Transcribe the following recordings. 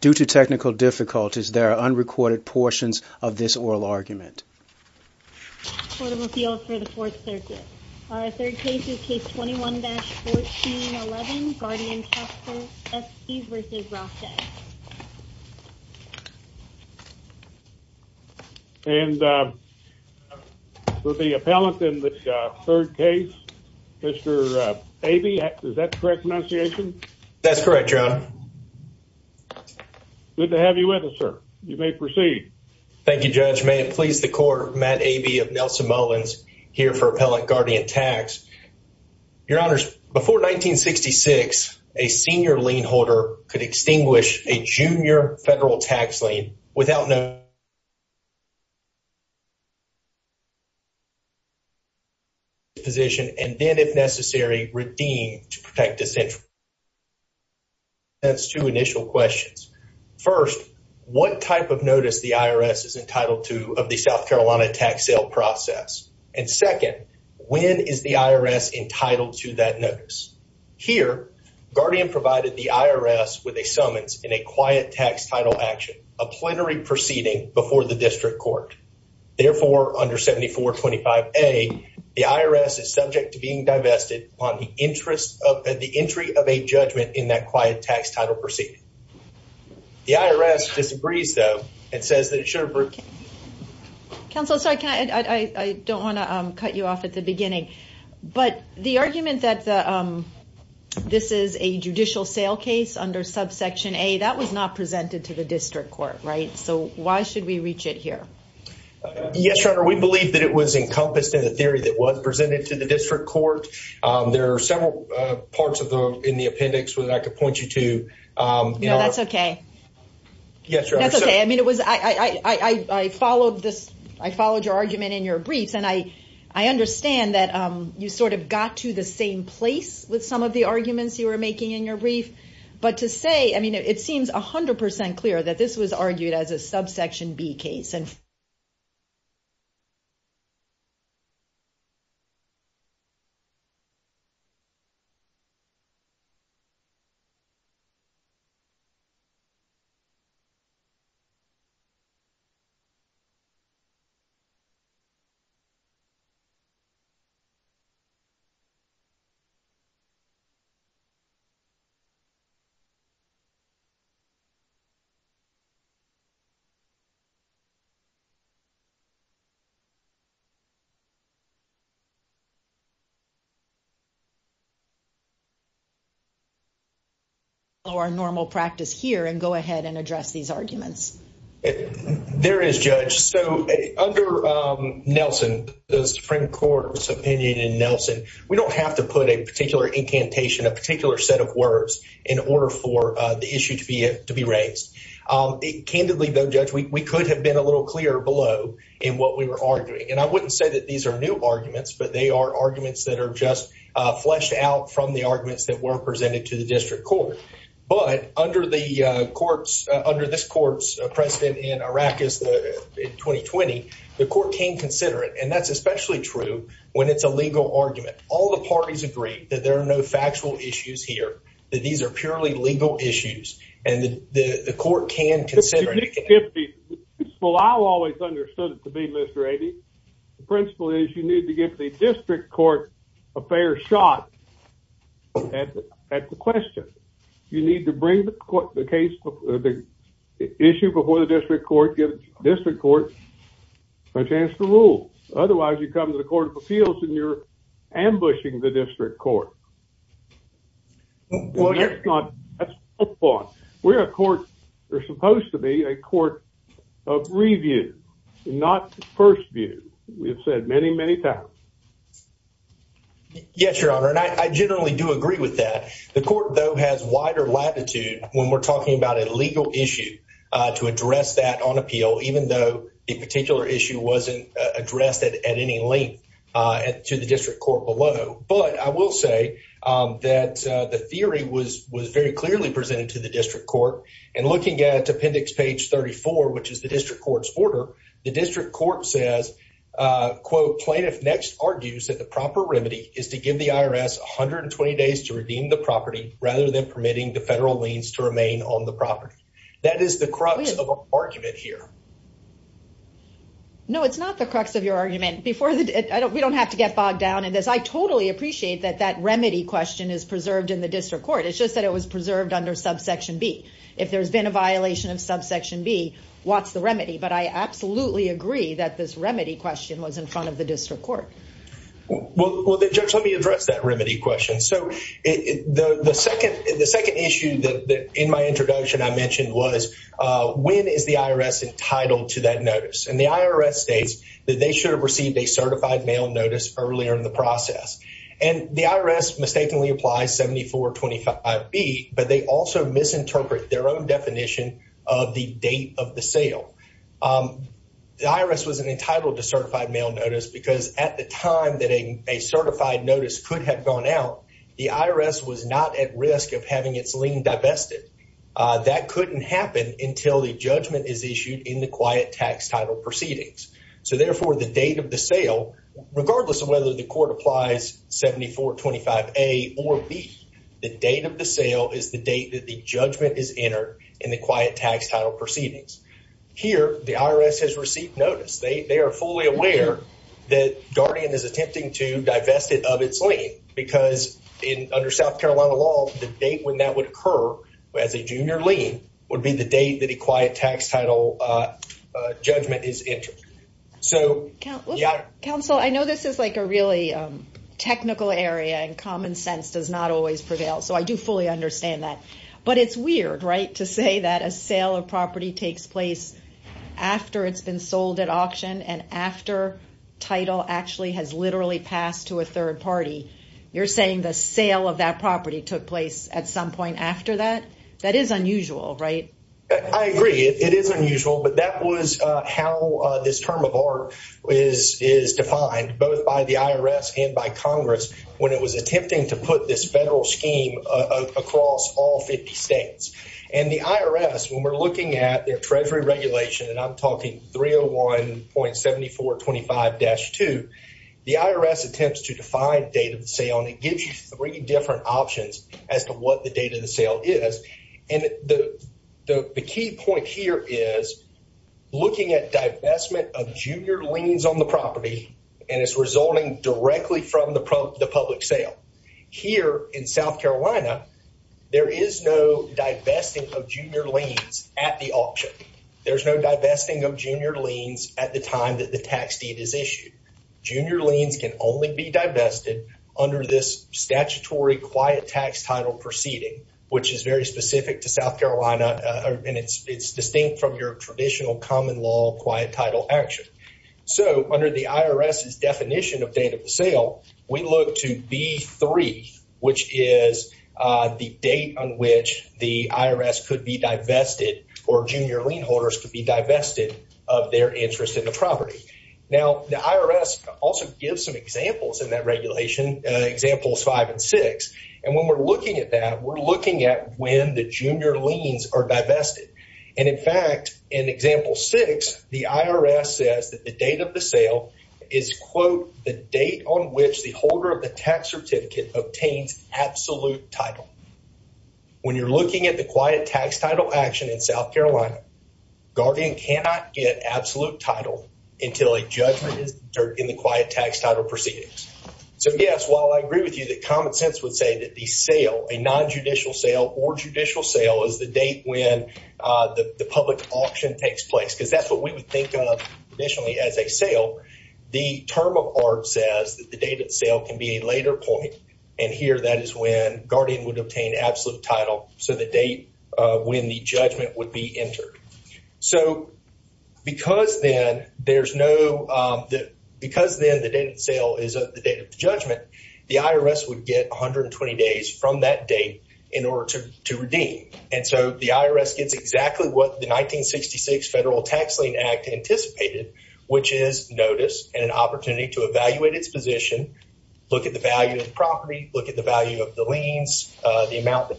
Due to technical difficulties, there are unrecorded portions of this oral argument. Court of Appeals for the Fourth Circuit. Our third case is Case 21-1411, Guardian Tax S.C. v. Ralph Day. And for the appellant in the third case, Mr. Abey, is that the correct pronunciation? That's correct, Your Honor. Good to have you with us, sir. You may proceed. Thank you, Judge. May it please the Court, Matt Abey of Nelson Mullins, here for Appellant Guardian Tax. Your Honors, before 1966, a senior lien holder could extinguish a junior federal tax lien without no... ...position, and then, if necessary, redeemed to protect a central... ...that's two initial questions. First, what type of notice the IRS is entitled to of the South Carolina tax sale process? And second, when is the IRS entitled to that notice? Here, Guardian provided the IRS with a summons in a quiet tax title action, a plenary proceeding before the district court. Therefore, under 7425A, the IRS is subject to being divested on the entry of a judgment in that quiet tax title proceeding. The IRS disagrees, though, and says that it should... Counsel, I'm sorry, I don't want to cut you off at the beginning. But the argument that this is a judicial sale case under subsection A, that was not presented to the district court, right? So, why should we reach it here? Yes, Your Honor, we believe that it was encompassed in a theory that was presented to the district court. There are several parts of the, in the appendix that I could point you to. No, that's okay. Yes, Your Honor. I mean, it was, I followed this, I followed your argument in your briefs. And I understand that you sort of got to the same place with some of the arguments you were making in your brief. But to say, I mean, it seems 100% clear that this was argued as a subsection B case. I'm going to follow our normal practice here and go ahead and address these arguments. There is, Judge. So, under Nelson, the Supreme Court's opinion in Nelson, we don't have to put a particular incantation, a particular set of words in order for the issue to be raised. Candidly, though, Judge, we could have been a little clearer below in what we were arguing. And I wouldn't say that these are new arguments, but they are arguments that are just fleshed out from the arguments that were presented to the district court. But under the courts, under this court's precedent in Iraq in 2020, the court can consider it. And that's especially true when it's a legal argument. All the parties agree that there are no factual issues here. That these are purely legal issues. And the court can consider it. Well, I've always understood it to be, Mr. Abey. The principle is you need to give the district court a fair shot at the question. You need to bring the issue before the district court, give the district court a chance to rule. Otherwise, you come to the Court of Appeals and you're ambushing the district court. That's not the point. We're a court. We're supposed to be a court of review, not first view. We have said many, many times. Yes, Your Honor. And I generally do agree with that. The court, though, has wider latitude when we're talking about a legal issue to address that on appeal. Even though a particular issue wasn't addressed at any length to the district court below. But I will say that the theory was very clearly presented to the district court. And looking at appendix page 34, which is the district court's order, the district court says, Plaintiff next argues that the proper remedy is to give the IRS 120 days to redeem the property rather than permitting the federal liens to remain on the property. That is the crux of the argument here. No, it's not the crux of your argument. We don't have to get bogged down in this. I totally appreciate that that remedy question is preserved in the district court. It's just that it was preserved under subsection B. If there's been a violation of subsection B, what's the remedy? But I absolutely agree that this remedy question was in front of the district court. Well, Judge, let me address that remedy question. So the second issue in my introduction I mentioned was, when is the IRS entitled to that notice? And the IRS states that they should have received a certified mail notice earlier in the process. And the IRS mistakenly applies 7425B, but they also misinterpret their own definition of the date of the sale. The IRS wasn't entitled to certified mail notice because at the time that a certified notice could have gone out, the IRS was not at risk of having its lien divested. That couldn't happen until the judgment is issued in the quiet tax title proceedings. So, therefore, the date of the sale, regardless of whether the court applies 7425A or B, the date of the sale is the date that the judgment is entered in the quiet tax title proceedings. Here, the IRS has received notice. They are fully aware that Guardian is attempting to divest it of its lien because under South Carolina law, the date when that would occur as a junior lien would be the date that a quiet tax title judgment is entered. So, yeah. Counsel, I know this is like a really technical area and common sense does not always prevail, so I do fully understand that. But it's weird, right, to say that a sale of property takes place after it's been sold at auction and after title actually has literally passed to a third party. You're saying the sale of that property took place at some point after that? That is unusual, right? I agree. It is unusual. But that was how this term of art is defined, both by the IRS and by Congress, when it was attempting to put this federal scheme across all 50 states. And the IRS, when we're looking at their Treasury regulation, and I'm talking 301.7425-2, the IRS attempts to define date of sale, and it gives you three different options as to what the date of the sale is. And the key point here is looking at divestment of junior liens on the property, and it's resulting directly from the public sale. Here in South Carolina, there is no divesting of junior liens at the auction. There's no divesting of junior liens at the time that the tax deed is issued. Junior liens can only be divested under this statutory quiet tax title proceeding, which is very specific to South Carolina, and it's distinct from your traditional common law quiet title action. So under the IRS's definition of date of the sale, we look to B-3, which is the date on which the IRS could be divested or junior lien holders could be divested of their interest in the property. Now, the IRS also gives some examples in that regulation, Examples 5 and 6, and when we're looking at that, we're looking at when the junior liens are divested. And in fact, in Example 6, the IRS says that the date of the sale is, quote, the date on which the holder of the tax certificate obtains absolute title. When you're looking at the quiet tax title action in South Carolina, guardian cannot get absolute title until a judgment is determined in the quiet tax title proceedings. So, yes, while I agree with you that common sense would say that the sale, a nonjudicial sale or judicial sale, is the date when the public auction takes place, because that's what we would think of traditionally as a sale. The term of art says that the date of the sale can be a later point, and here that is when guardian would obtain absolute title, so the date when the judgment would be entered. So because then there's no, because then the date of the sale is the date of the judgment, the IRS would get 120 days from that date in order to redeem. And so the IRS gets exactly what the 1966 Federal Tax Lien Act anticipated, which is notice and an opportunity to evaluate its position, look at the value of the property, look at the value of the liens, the amount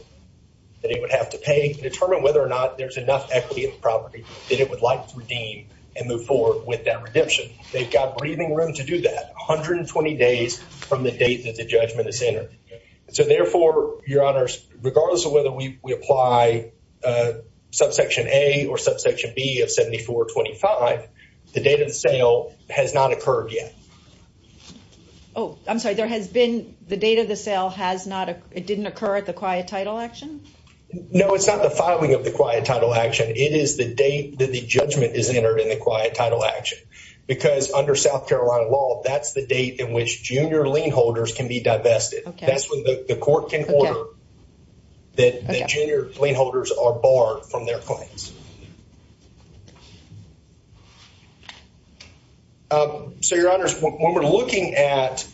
that it would have to pay, determine whether or not there's enough equity in the property that it would like to redeem, and move forward with that redemption. They've got breathing room to do that, 120 days from the date that the judgment is entered. So therefore, Your Honors, regardless of whether we apply subsection A or subsection B of 7425, the date of the sale has not occurred yet. Oh, I'm sorry, there has been, the date of the sale has not, it didn't occur at the quiet title action? No, it's not the filing of the quiet title action, it is the date that the judgment is entered in the quiet title action. Because under South Carolina law, that's the date in which junior lien holders can be divested. That's when the court can order that junior lien holders are barred from their claims. So, Your Honors, when we're looking at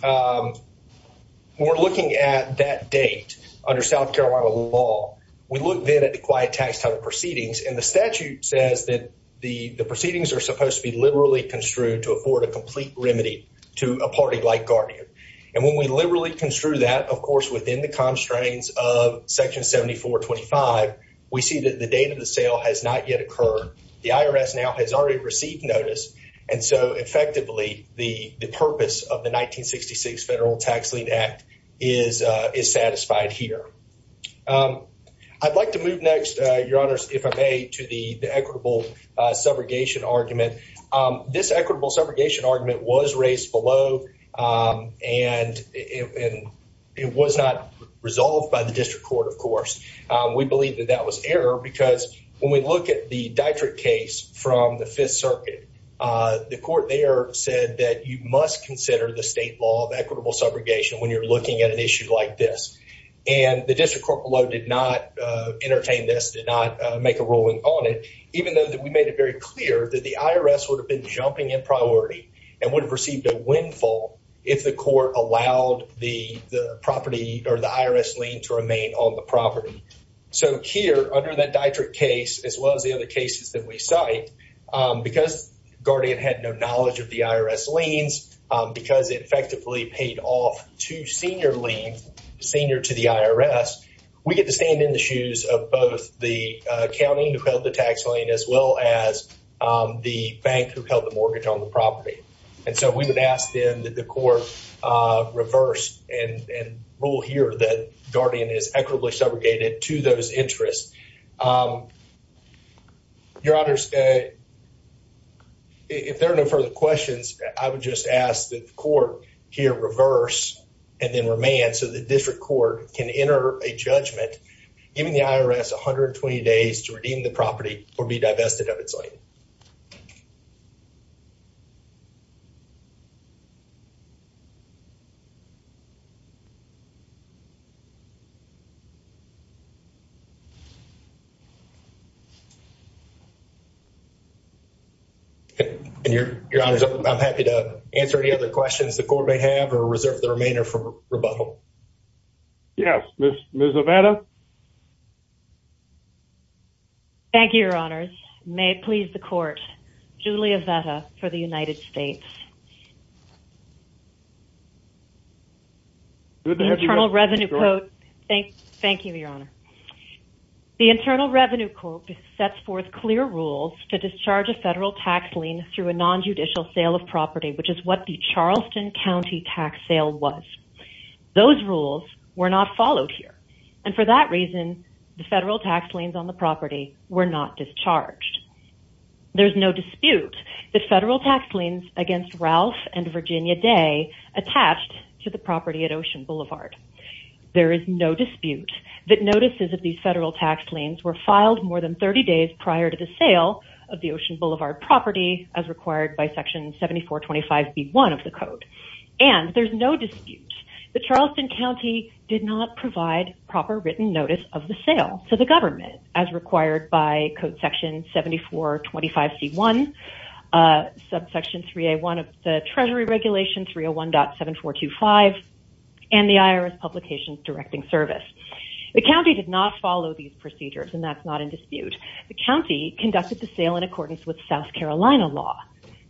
that date under South Carolina law, we look then at the quiet tax title proceedings, and the statute says that the proceedings are supposed to be liberally construed to afford a complete remedy to a party like Guardian. And when we liberally construe that, of course, within the constraints of section 7425, we see that the date of the sale has not yet occurred. The IRS now has already received notice. And so, effectively, the purpose of the 1966 Federal Tax Lien Act is satisfied here. I'd like to move next, Your Honors, if I may, to the equitable subrogation argument. This equitable subrogation argument was raised below, and it was not resolved by the district court, of course. We believe that that was error, because when we look at the Dietrich case from the Fifth Circuit, the court there said that you must consider the state law of equitable subrogation when you're looking at an issue like this. And the district court below did not entertain this, did not make a ruling on it, even though we made it very clear that the IRS would have been jumping in priority and would have received a windfall if the court allowed the property or the IRS lien to remain on the property. So here, under that Dietrich case, as well as the other cases that we cite, because Guardian had no knowledge of the IRS liens, because it effectively paid off two senior liens, senior to the IRS, we get to stand in the shoes of both the county who held the tax lien as well as the bank who held the mortgage on the property. And so we would ask, then, that the court reverse and rule here that Guardian is equitably subrogated to those interests. Your Honors, if there are no further questions, I would just ask that the court here reverse and then remand so the district court can enter a judgment giving the IRS 120 days to redeem the property or be divested of its lien. Your Honors, I'm happy to answer any other questions the court may have or reserve the remainder for rebuttal. Yes, Ms. Zavada? Thank you, Your Honors. May it please the court, Julia Zavada for the United States. Good to have you back, Ms. Zavada. Thank you, Your Honor. The Internal Revenue Code sets forth clear rules to discharge a federal tax lien through a nonjudicial sale of property, which is what the Charleston County tax sale was. Those rules were not followed here. And for that reason, the federal tax liens on the property were not discharged. There is no dispute that federal tax liens against Ralph and Virginia Day attached to the property at Ocean Boulevard. There is no dispute that notices of these federal tax liens were filed more than 30 days prior to the sale of the Ocean Boulevard property as required by Section 7425B1 of the Code. And there's no dispute that Charleston County did not provide proper written notice of the sale to the government as required by Code Section 7425C1, Subsection 3A1 of the Treasury Regulation 301.7425, and the IRS Publications Directing Service. The county did not follow these procedures, and that's not in dispute. The county conducted the sale in accordance with South Carolina law.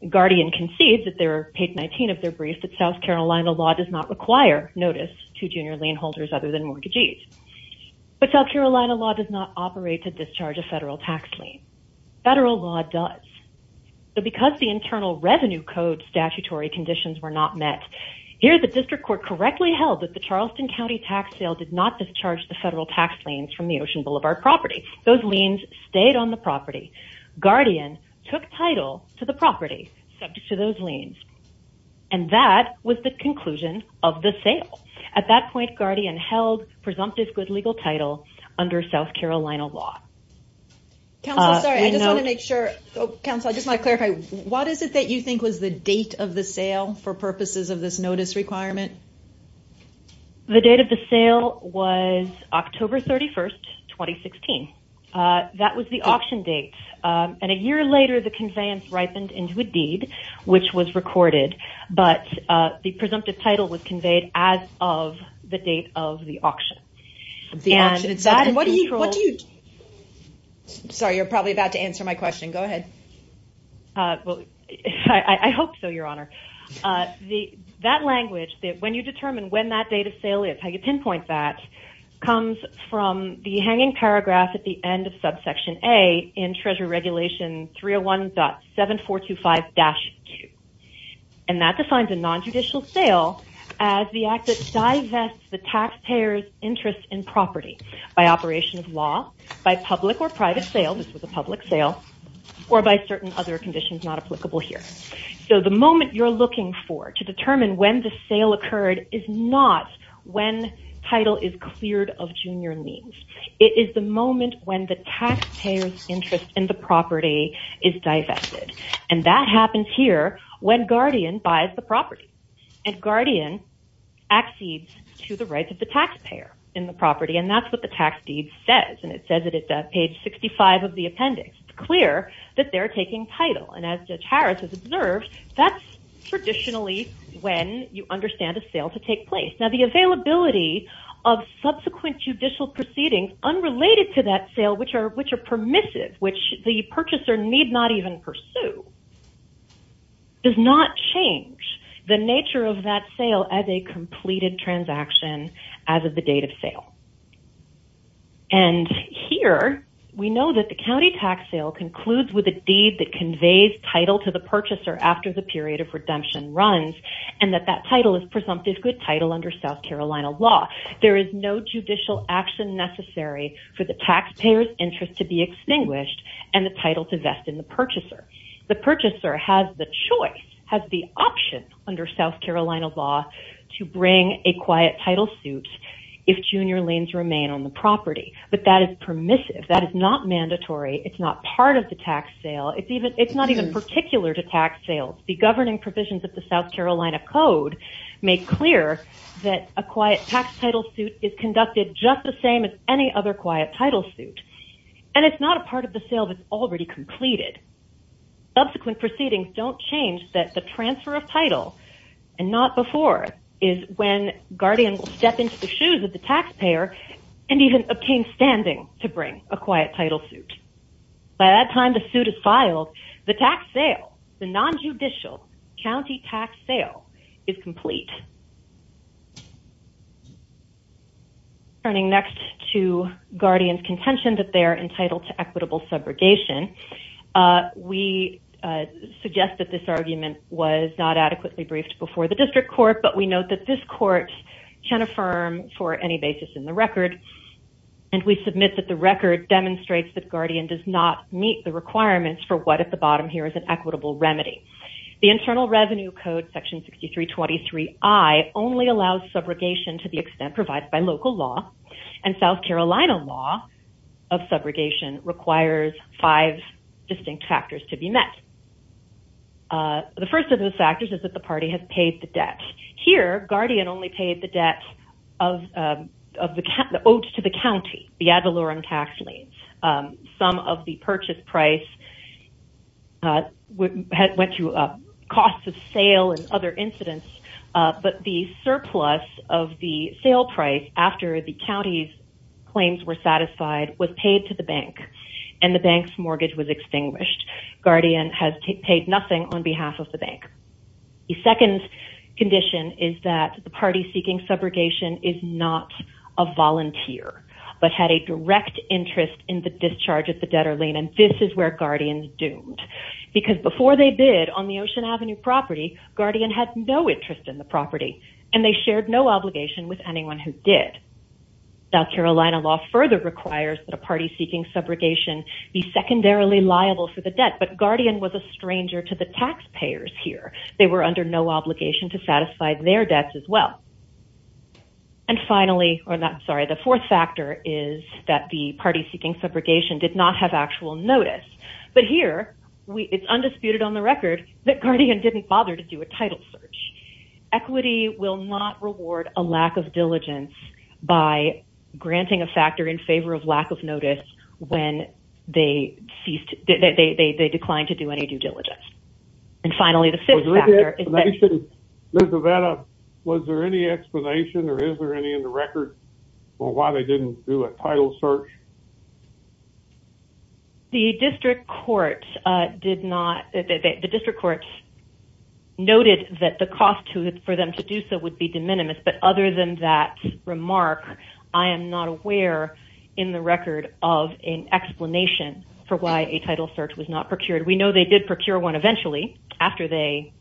Guardian concedes at their page 19 of their brief that South Carolina law does not require notice to junior lien holders other than mortgagees. But South Carolina law does not operate to discharge a federal tax lien. Federal law does. But because the Internal Revenue Code statutory conditions were not met, here the district court correctly held that the Charleston County tax sale did not discharge the federal tax liens from the Ocean Boulevard property. Those liens stayed on the property. Guardian took title to the property subject to those liens. And that was the conclusion of the sale. At that point, Guardian held presumptive good legal title under South Carolina law. Council, sorry, I just want to make sure. Council, I just want to clarify. What is it that you think was the date of the sale for purposes of this notice requirement? The date of the sale was October 31, 2016. That was the auction date. And a year later, the conveyance ripened into a deed, which was recorded. But the presumptive title was conveyed as of the date of the auction. The auction itself. What do you. Sorry, you're probably about to answer my question. Go ahead. Well, I hope so, Your Honor. That language, when you determine when that date of sale is, how you pinpoint that, comes from the hanging paragraph at the end of subsection A in Treasury Regulation 301.7425-2. And that defines a nonjudicial sale as the act that divests the taxpayer's interest in property by operation of law, by public or private sale, this was a public sale, or by certain other conditions not applicable here. So the moment you're looking for to determine when the sale occurred is not when title is cleared of junior liens. It is the moment when the taxpayer's interest in the property is divested. And that happens here when Guardian buys the property. And Guardian accedes to the rights of the taxpayer in the property. And that's what the tax deed says. And it says it at page 65 of the appendix. It's clear that they're taking title. And as Judge Harris has observed, that's traditionally when you understand a sale to take place. Now, the availability of subsequent judicial proceedings unrelated to that sale, which are permissive, which the purchaser need not even pursue, does not change the nature of that sale as a completed transaction as of the date of sale. And here, we know that the county tax sale concludes with a deed that conveys title to the purchaser after the period of redemption runs, and that that title is presumptive good title under South Carolina law. There is no judicial action necessary for the taxpayer's interest to be extinguished and the title to vest in the purchaser. The purchaser has the choice, has the option under South Carolina law to bring a quiet title suit if junior liens remain on the property. But that is permissive. That is not mandatory. It's not part of the tax sale. It's not even particular to tax sales. The governing provisions of the South Carolina Code make clear that a quiet tax title suit is conducted just the same as any other quiet title suit. And it's not a part of the sale that's already completed. Subsequent proceedings don't change that the transfer of title, and not before, is when guardian will step into the shoes of the taxpayer and even obtain standing to bring a quiet title suit. By that time the suit is filed, the tax sale, the nonjudicial county tax sale, is complete. Turning next to guardian's contention that they are entitled to equitable subrogation, we suggest that this argument was not adequately briefed before the district court, but we note that this court can affirm for any basis in the record, and we submit that the record demonstrates that guardian does not meet the requirements for what at the bottom here is an equitable remedy. The Internal Revenue Code, Section 6323I, only allows subrogation to the extent provided by local law, and South Carolina law of subrogation requires five distinct factors to be met. The first of those factors is that the party has paid the debt. Here, guardian only paid the debt owed to the county, the ad valorem tax liens. Some of the purchase price went to costs of sale and other incidents, but the surplus of the sale price after the county's claims were satisfied was paid to the bank, and the bank's mortgage was extinguished. Guardian has paid nothing on behalf of the bank. The second condition is that the party seeking subrogation is not a volunteer, but had a direct interest in the discharge of the debtor lien, and this is where guardians doomed, because before they bid on the Ocean Avenue property, guardian had no interest in the property, and they shared no obligation with anyone who did. South Carolina law further requires that a party seeking subrogation be secondarily liable for the debt, but guardian was a stranger to the taxpayers here. They were under no obligation to satisfy their debts as well. And finally, I'm sorry, the fourth factor is that the party seeking subrogation did not have actual notice, but here it's undisputed on the record that guardian didn't bother to do a title search. Equity will not reward a lack of diligence by granting a factor in favor of lack of notice when they declined to do any due diligence. And finally, the fifth factor is that... Ms. Rivera, was there any explanation or is there any in the record for why they didn't do a title search? The district courts noted that the cost for them to do so would be de minimis, but other than that remark, I am not aware in the record of an explanation for why a title search was not procured. We know they did procure one eventually after they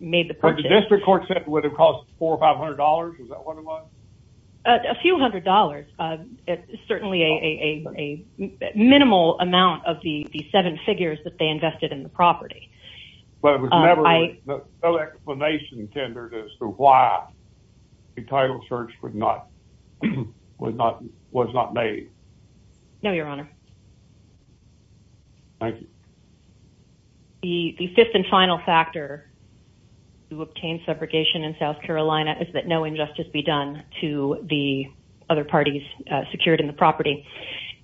made the purchase. But the district court said it would have cost $400 or $500. Is that what it was? A few hundred dollars. It's certainly a minimal amount of the seven figures that they invested in the property. But there was no explanation tendered as to why a title search was not made? No, Your Honor. Thank you. The fifth and final factor to obtain separation in South Carolina is that no injustice be done to the other parties secured in the property.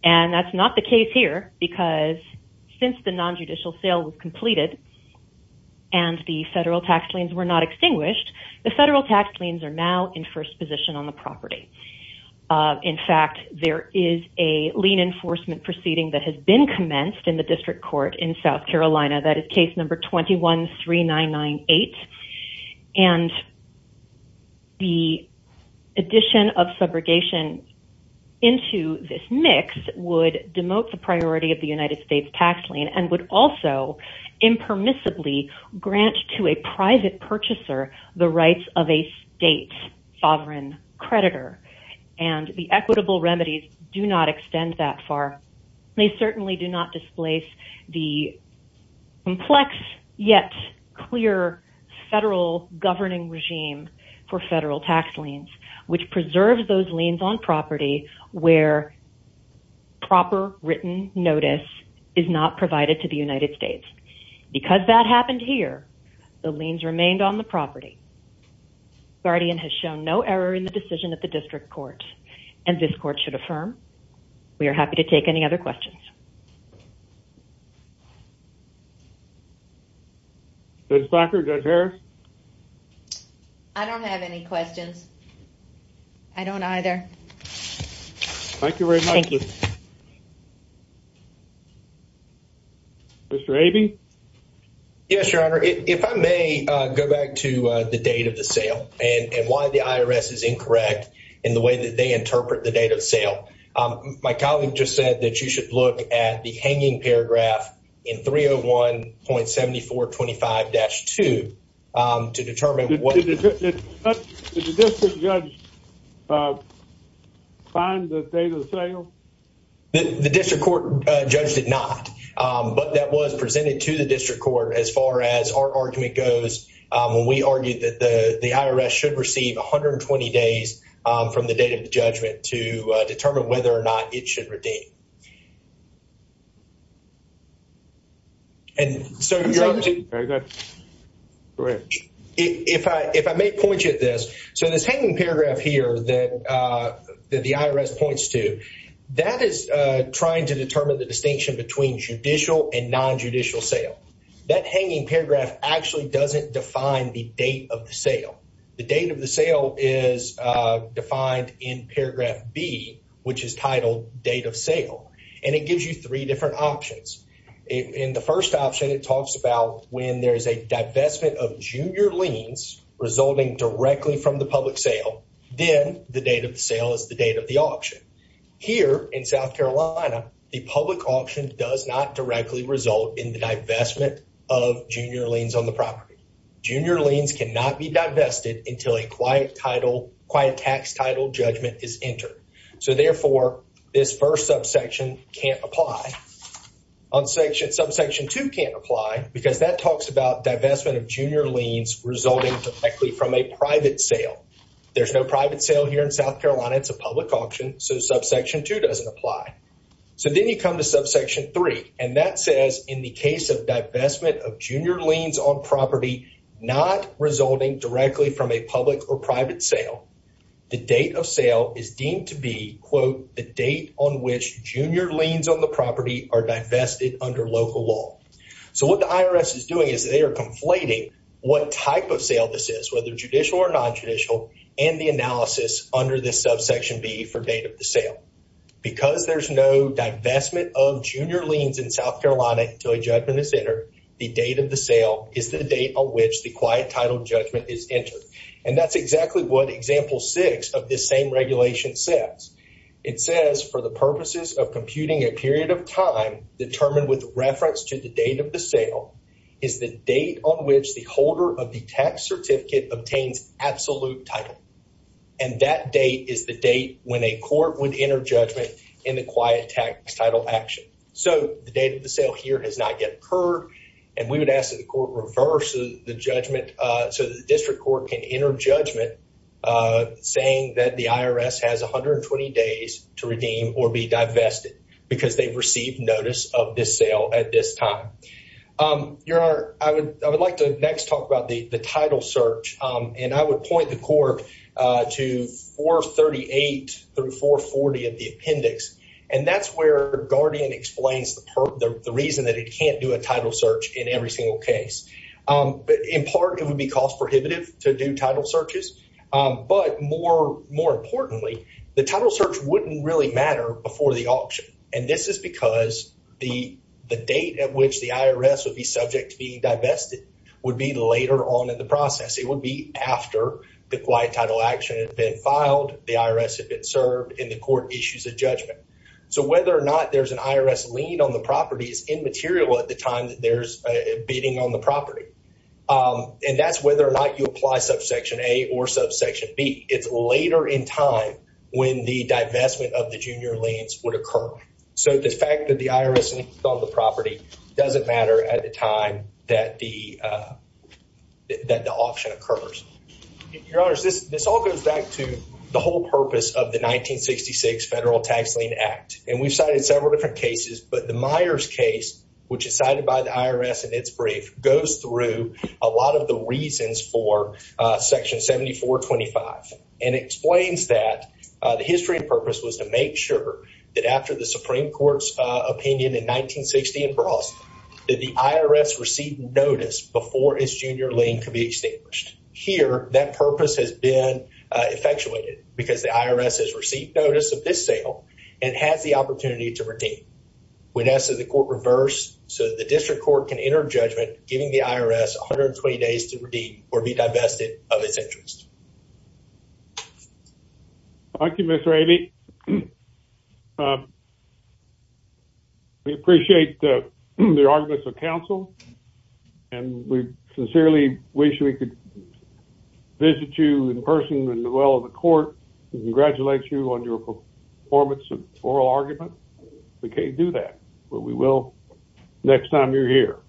And that's not the case here because since the non-judicial sale was completed and the federal tax liens were not extinguished, the federal tax liens are now in first position on the property. In fact, there is a lien enforcement proceeding that has been commenced in the district court in South Carolina. That is case number 21-3998. And the addition of subrogation into this mix would demote the priority of the United States tax lien and would also impermissibly grant to a private purchaser the rights of a state sovereign creditor. And the equitable remedies do not extend that far. They certainly do not displace the complex yet clear federal governing regime for federal tax liens, which preserves those liens on property where proper written notice is not provided to the United States. Because that happened here, the liens remained on the property. The guardian has shown no error in the decision at the district court. And this court should affirm. We are happy to take any other questions. Judge Backer, Judge Harris? I don't have any questions. I don't either. Thank you very much. Mr. Abey? Yes, Your Honor. If I may go back to the date of the sale and why the IRS is incorrect in the way that they interpret the date of sale. My colleague just said that you should look at the hanging paragraph in 301.7425-2 to determine what. Did the district judge find the date of sale? The district court judge did not. But that was presented to the district court as far as our argument goes. We argued that the IRS should receive 120 days from the date of the judgment to determine whether or not it should redeem. If I may point you to this, so this hanging paragraph here that the IRS points to, that is trying to determine the distinction between judicial and non-judicial sale. That hanging paragraph actually doesn't define the date of the sale. The date of the sale is defined in paragraph B, which is titled date of sale. And it gives you three different options. In the first option, it talks about when there is a divestment of junior liens resulting directly from the public sale. Then the date of the sale is the date of the auction. Here in South Carolina, the public auction does not directly result in the divestment of junior liens on the property. Junior liens cannot be divested until a quiet tax title judgment is entered. So therefore, this first subsection can't apply. Subsection 2 can't apply because that talks about divestment of junior liens resulting directly from a private sale. There's no private sale here in South Carolina. It's a public auction. So subsection 2 doesn't apply. So then you come to subsection 3. And that says in the case of divestment of junior liens on property not resulting directly from a public or private sale, the date of sale is deemed to be, quote, the date on which junior liens on the property are divested under local law. So what the IRS is doing is they are conflating what type of sale this is, whether judicial or non-judicial, and the analysis under this subsection B for date of the sale. Because there's no divestment of junior liens in South Carolina until a judgment is entered, the date of the sale is the date on which the quiet title judgment is entered. And that's exactly what example 6 of this same regulation says. It says, for the purposes of computing a period of time determined with reference to the date of the sale, is the date on which the holder of the tax certificate obtains absolute title. And that date is the date when a court would enter judgment in the quiet tax title action. So the date of the sale here has not yet occurred. And we would ask that the court reverse the judgment so that the district court can enter judgment, saying that the IRS has 120 days to redeem or be divested because they've received notice of this sale at this time. Your Honor, I would like to next talk about the title search. And I would point the court to 438 through 440 of the appendix. And that's where Guardian explains the reason that it can't do a title search in every single case. In part, it would be cost prohibitive to do title searches. But more importantly, the title search wouldn't really matter before the auction. And this is because the date at which the IRS would be subject to be divested would be later on in the process. It would be after the quiet title action had been filed, the IRS had been served, and the court issues a judgment. So whether or not there's an IRS lien on the property is immaterial at the time that there's a bidding on the property. And that's whether or not you apply subsection A or subsection B. It's later in time when the divestment of the junior liens would occur. So the fact that the IRS liens on the property doesn't matter at the time that the auction occurs. Your Honors, this all goes back to the whole purpose of the 1966 Federal Tax Lien Act. And we've cited several different cases, but the Myers case, which is cited by the IRS in its brief, goes through a lot of the reasons for Section 7425. And it explains that the history and purpose was to make sure that after the Supreme Court's opinion in 1960 in Brosk, that the IRS received notice before its junior lien could be established. Here, that purpose has been effectuated because the IRS has received notice of this sale and has the opportunity to redeem. We'd ask that the court reverse so that the district court can enter judgment, giving the IRS 120 days to redeem or be divested of its interest. Thank you, Mr. Abbey. We appreciate the arguments of counsel. And we sincerely wish we could visit you in person and in the well of the court to congratulate you on your performance of oral argument. We can't do that, but we will next time you're here.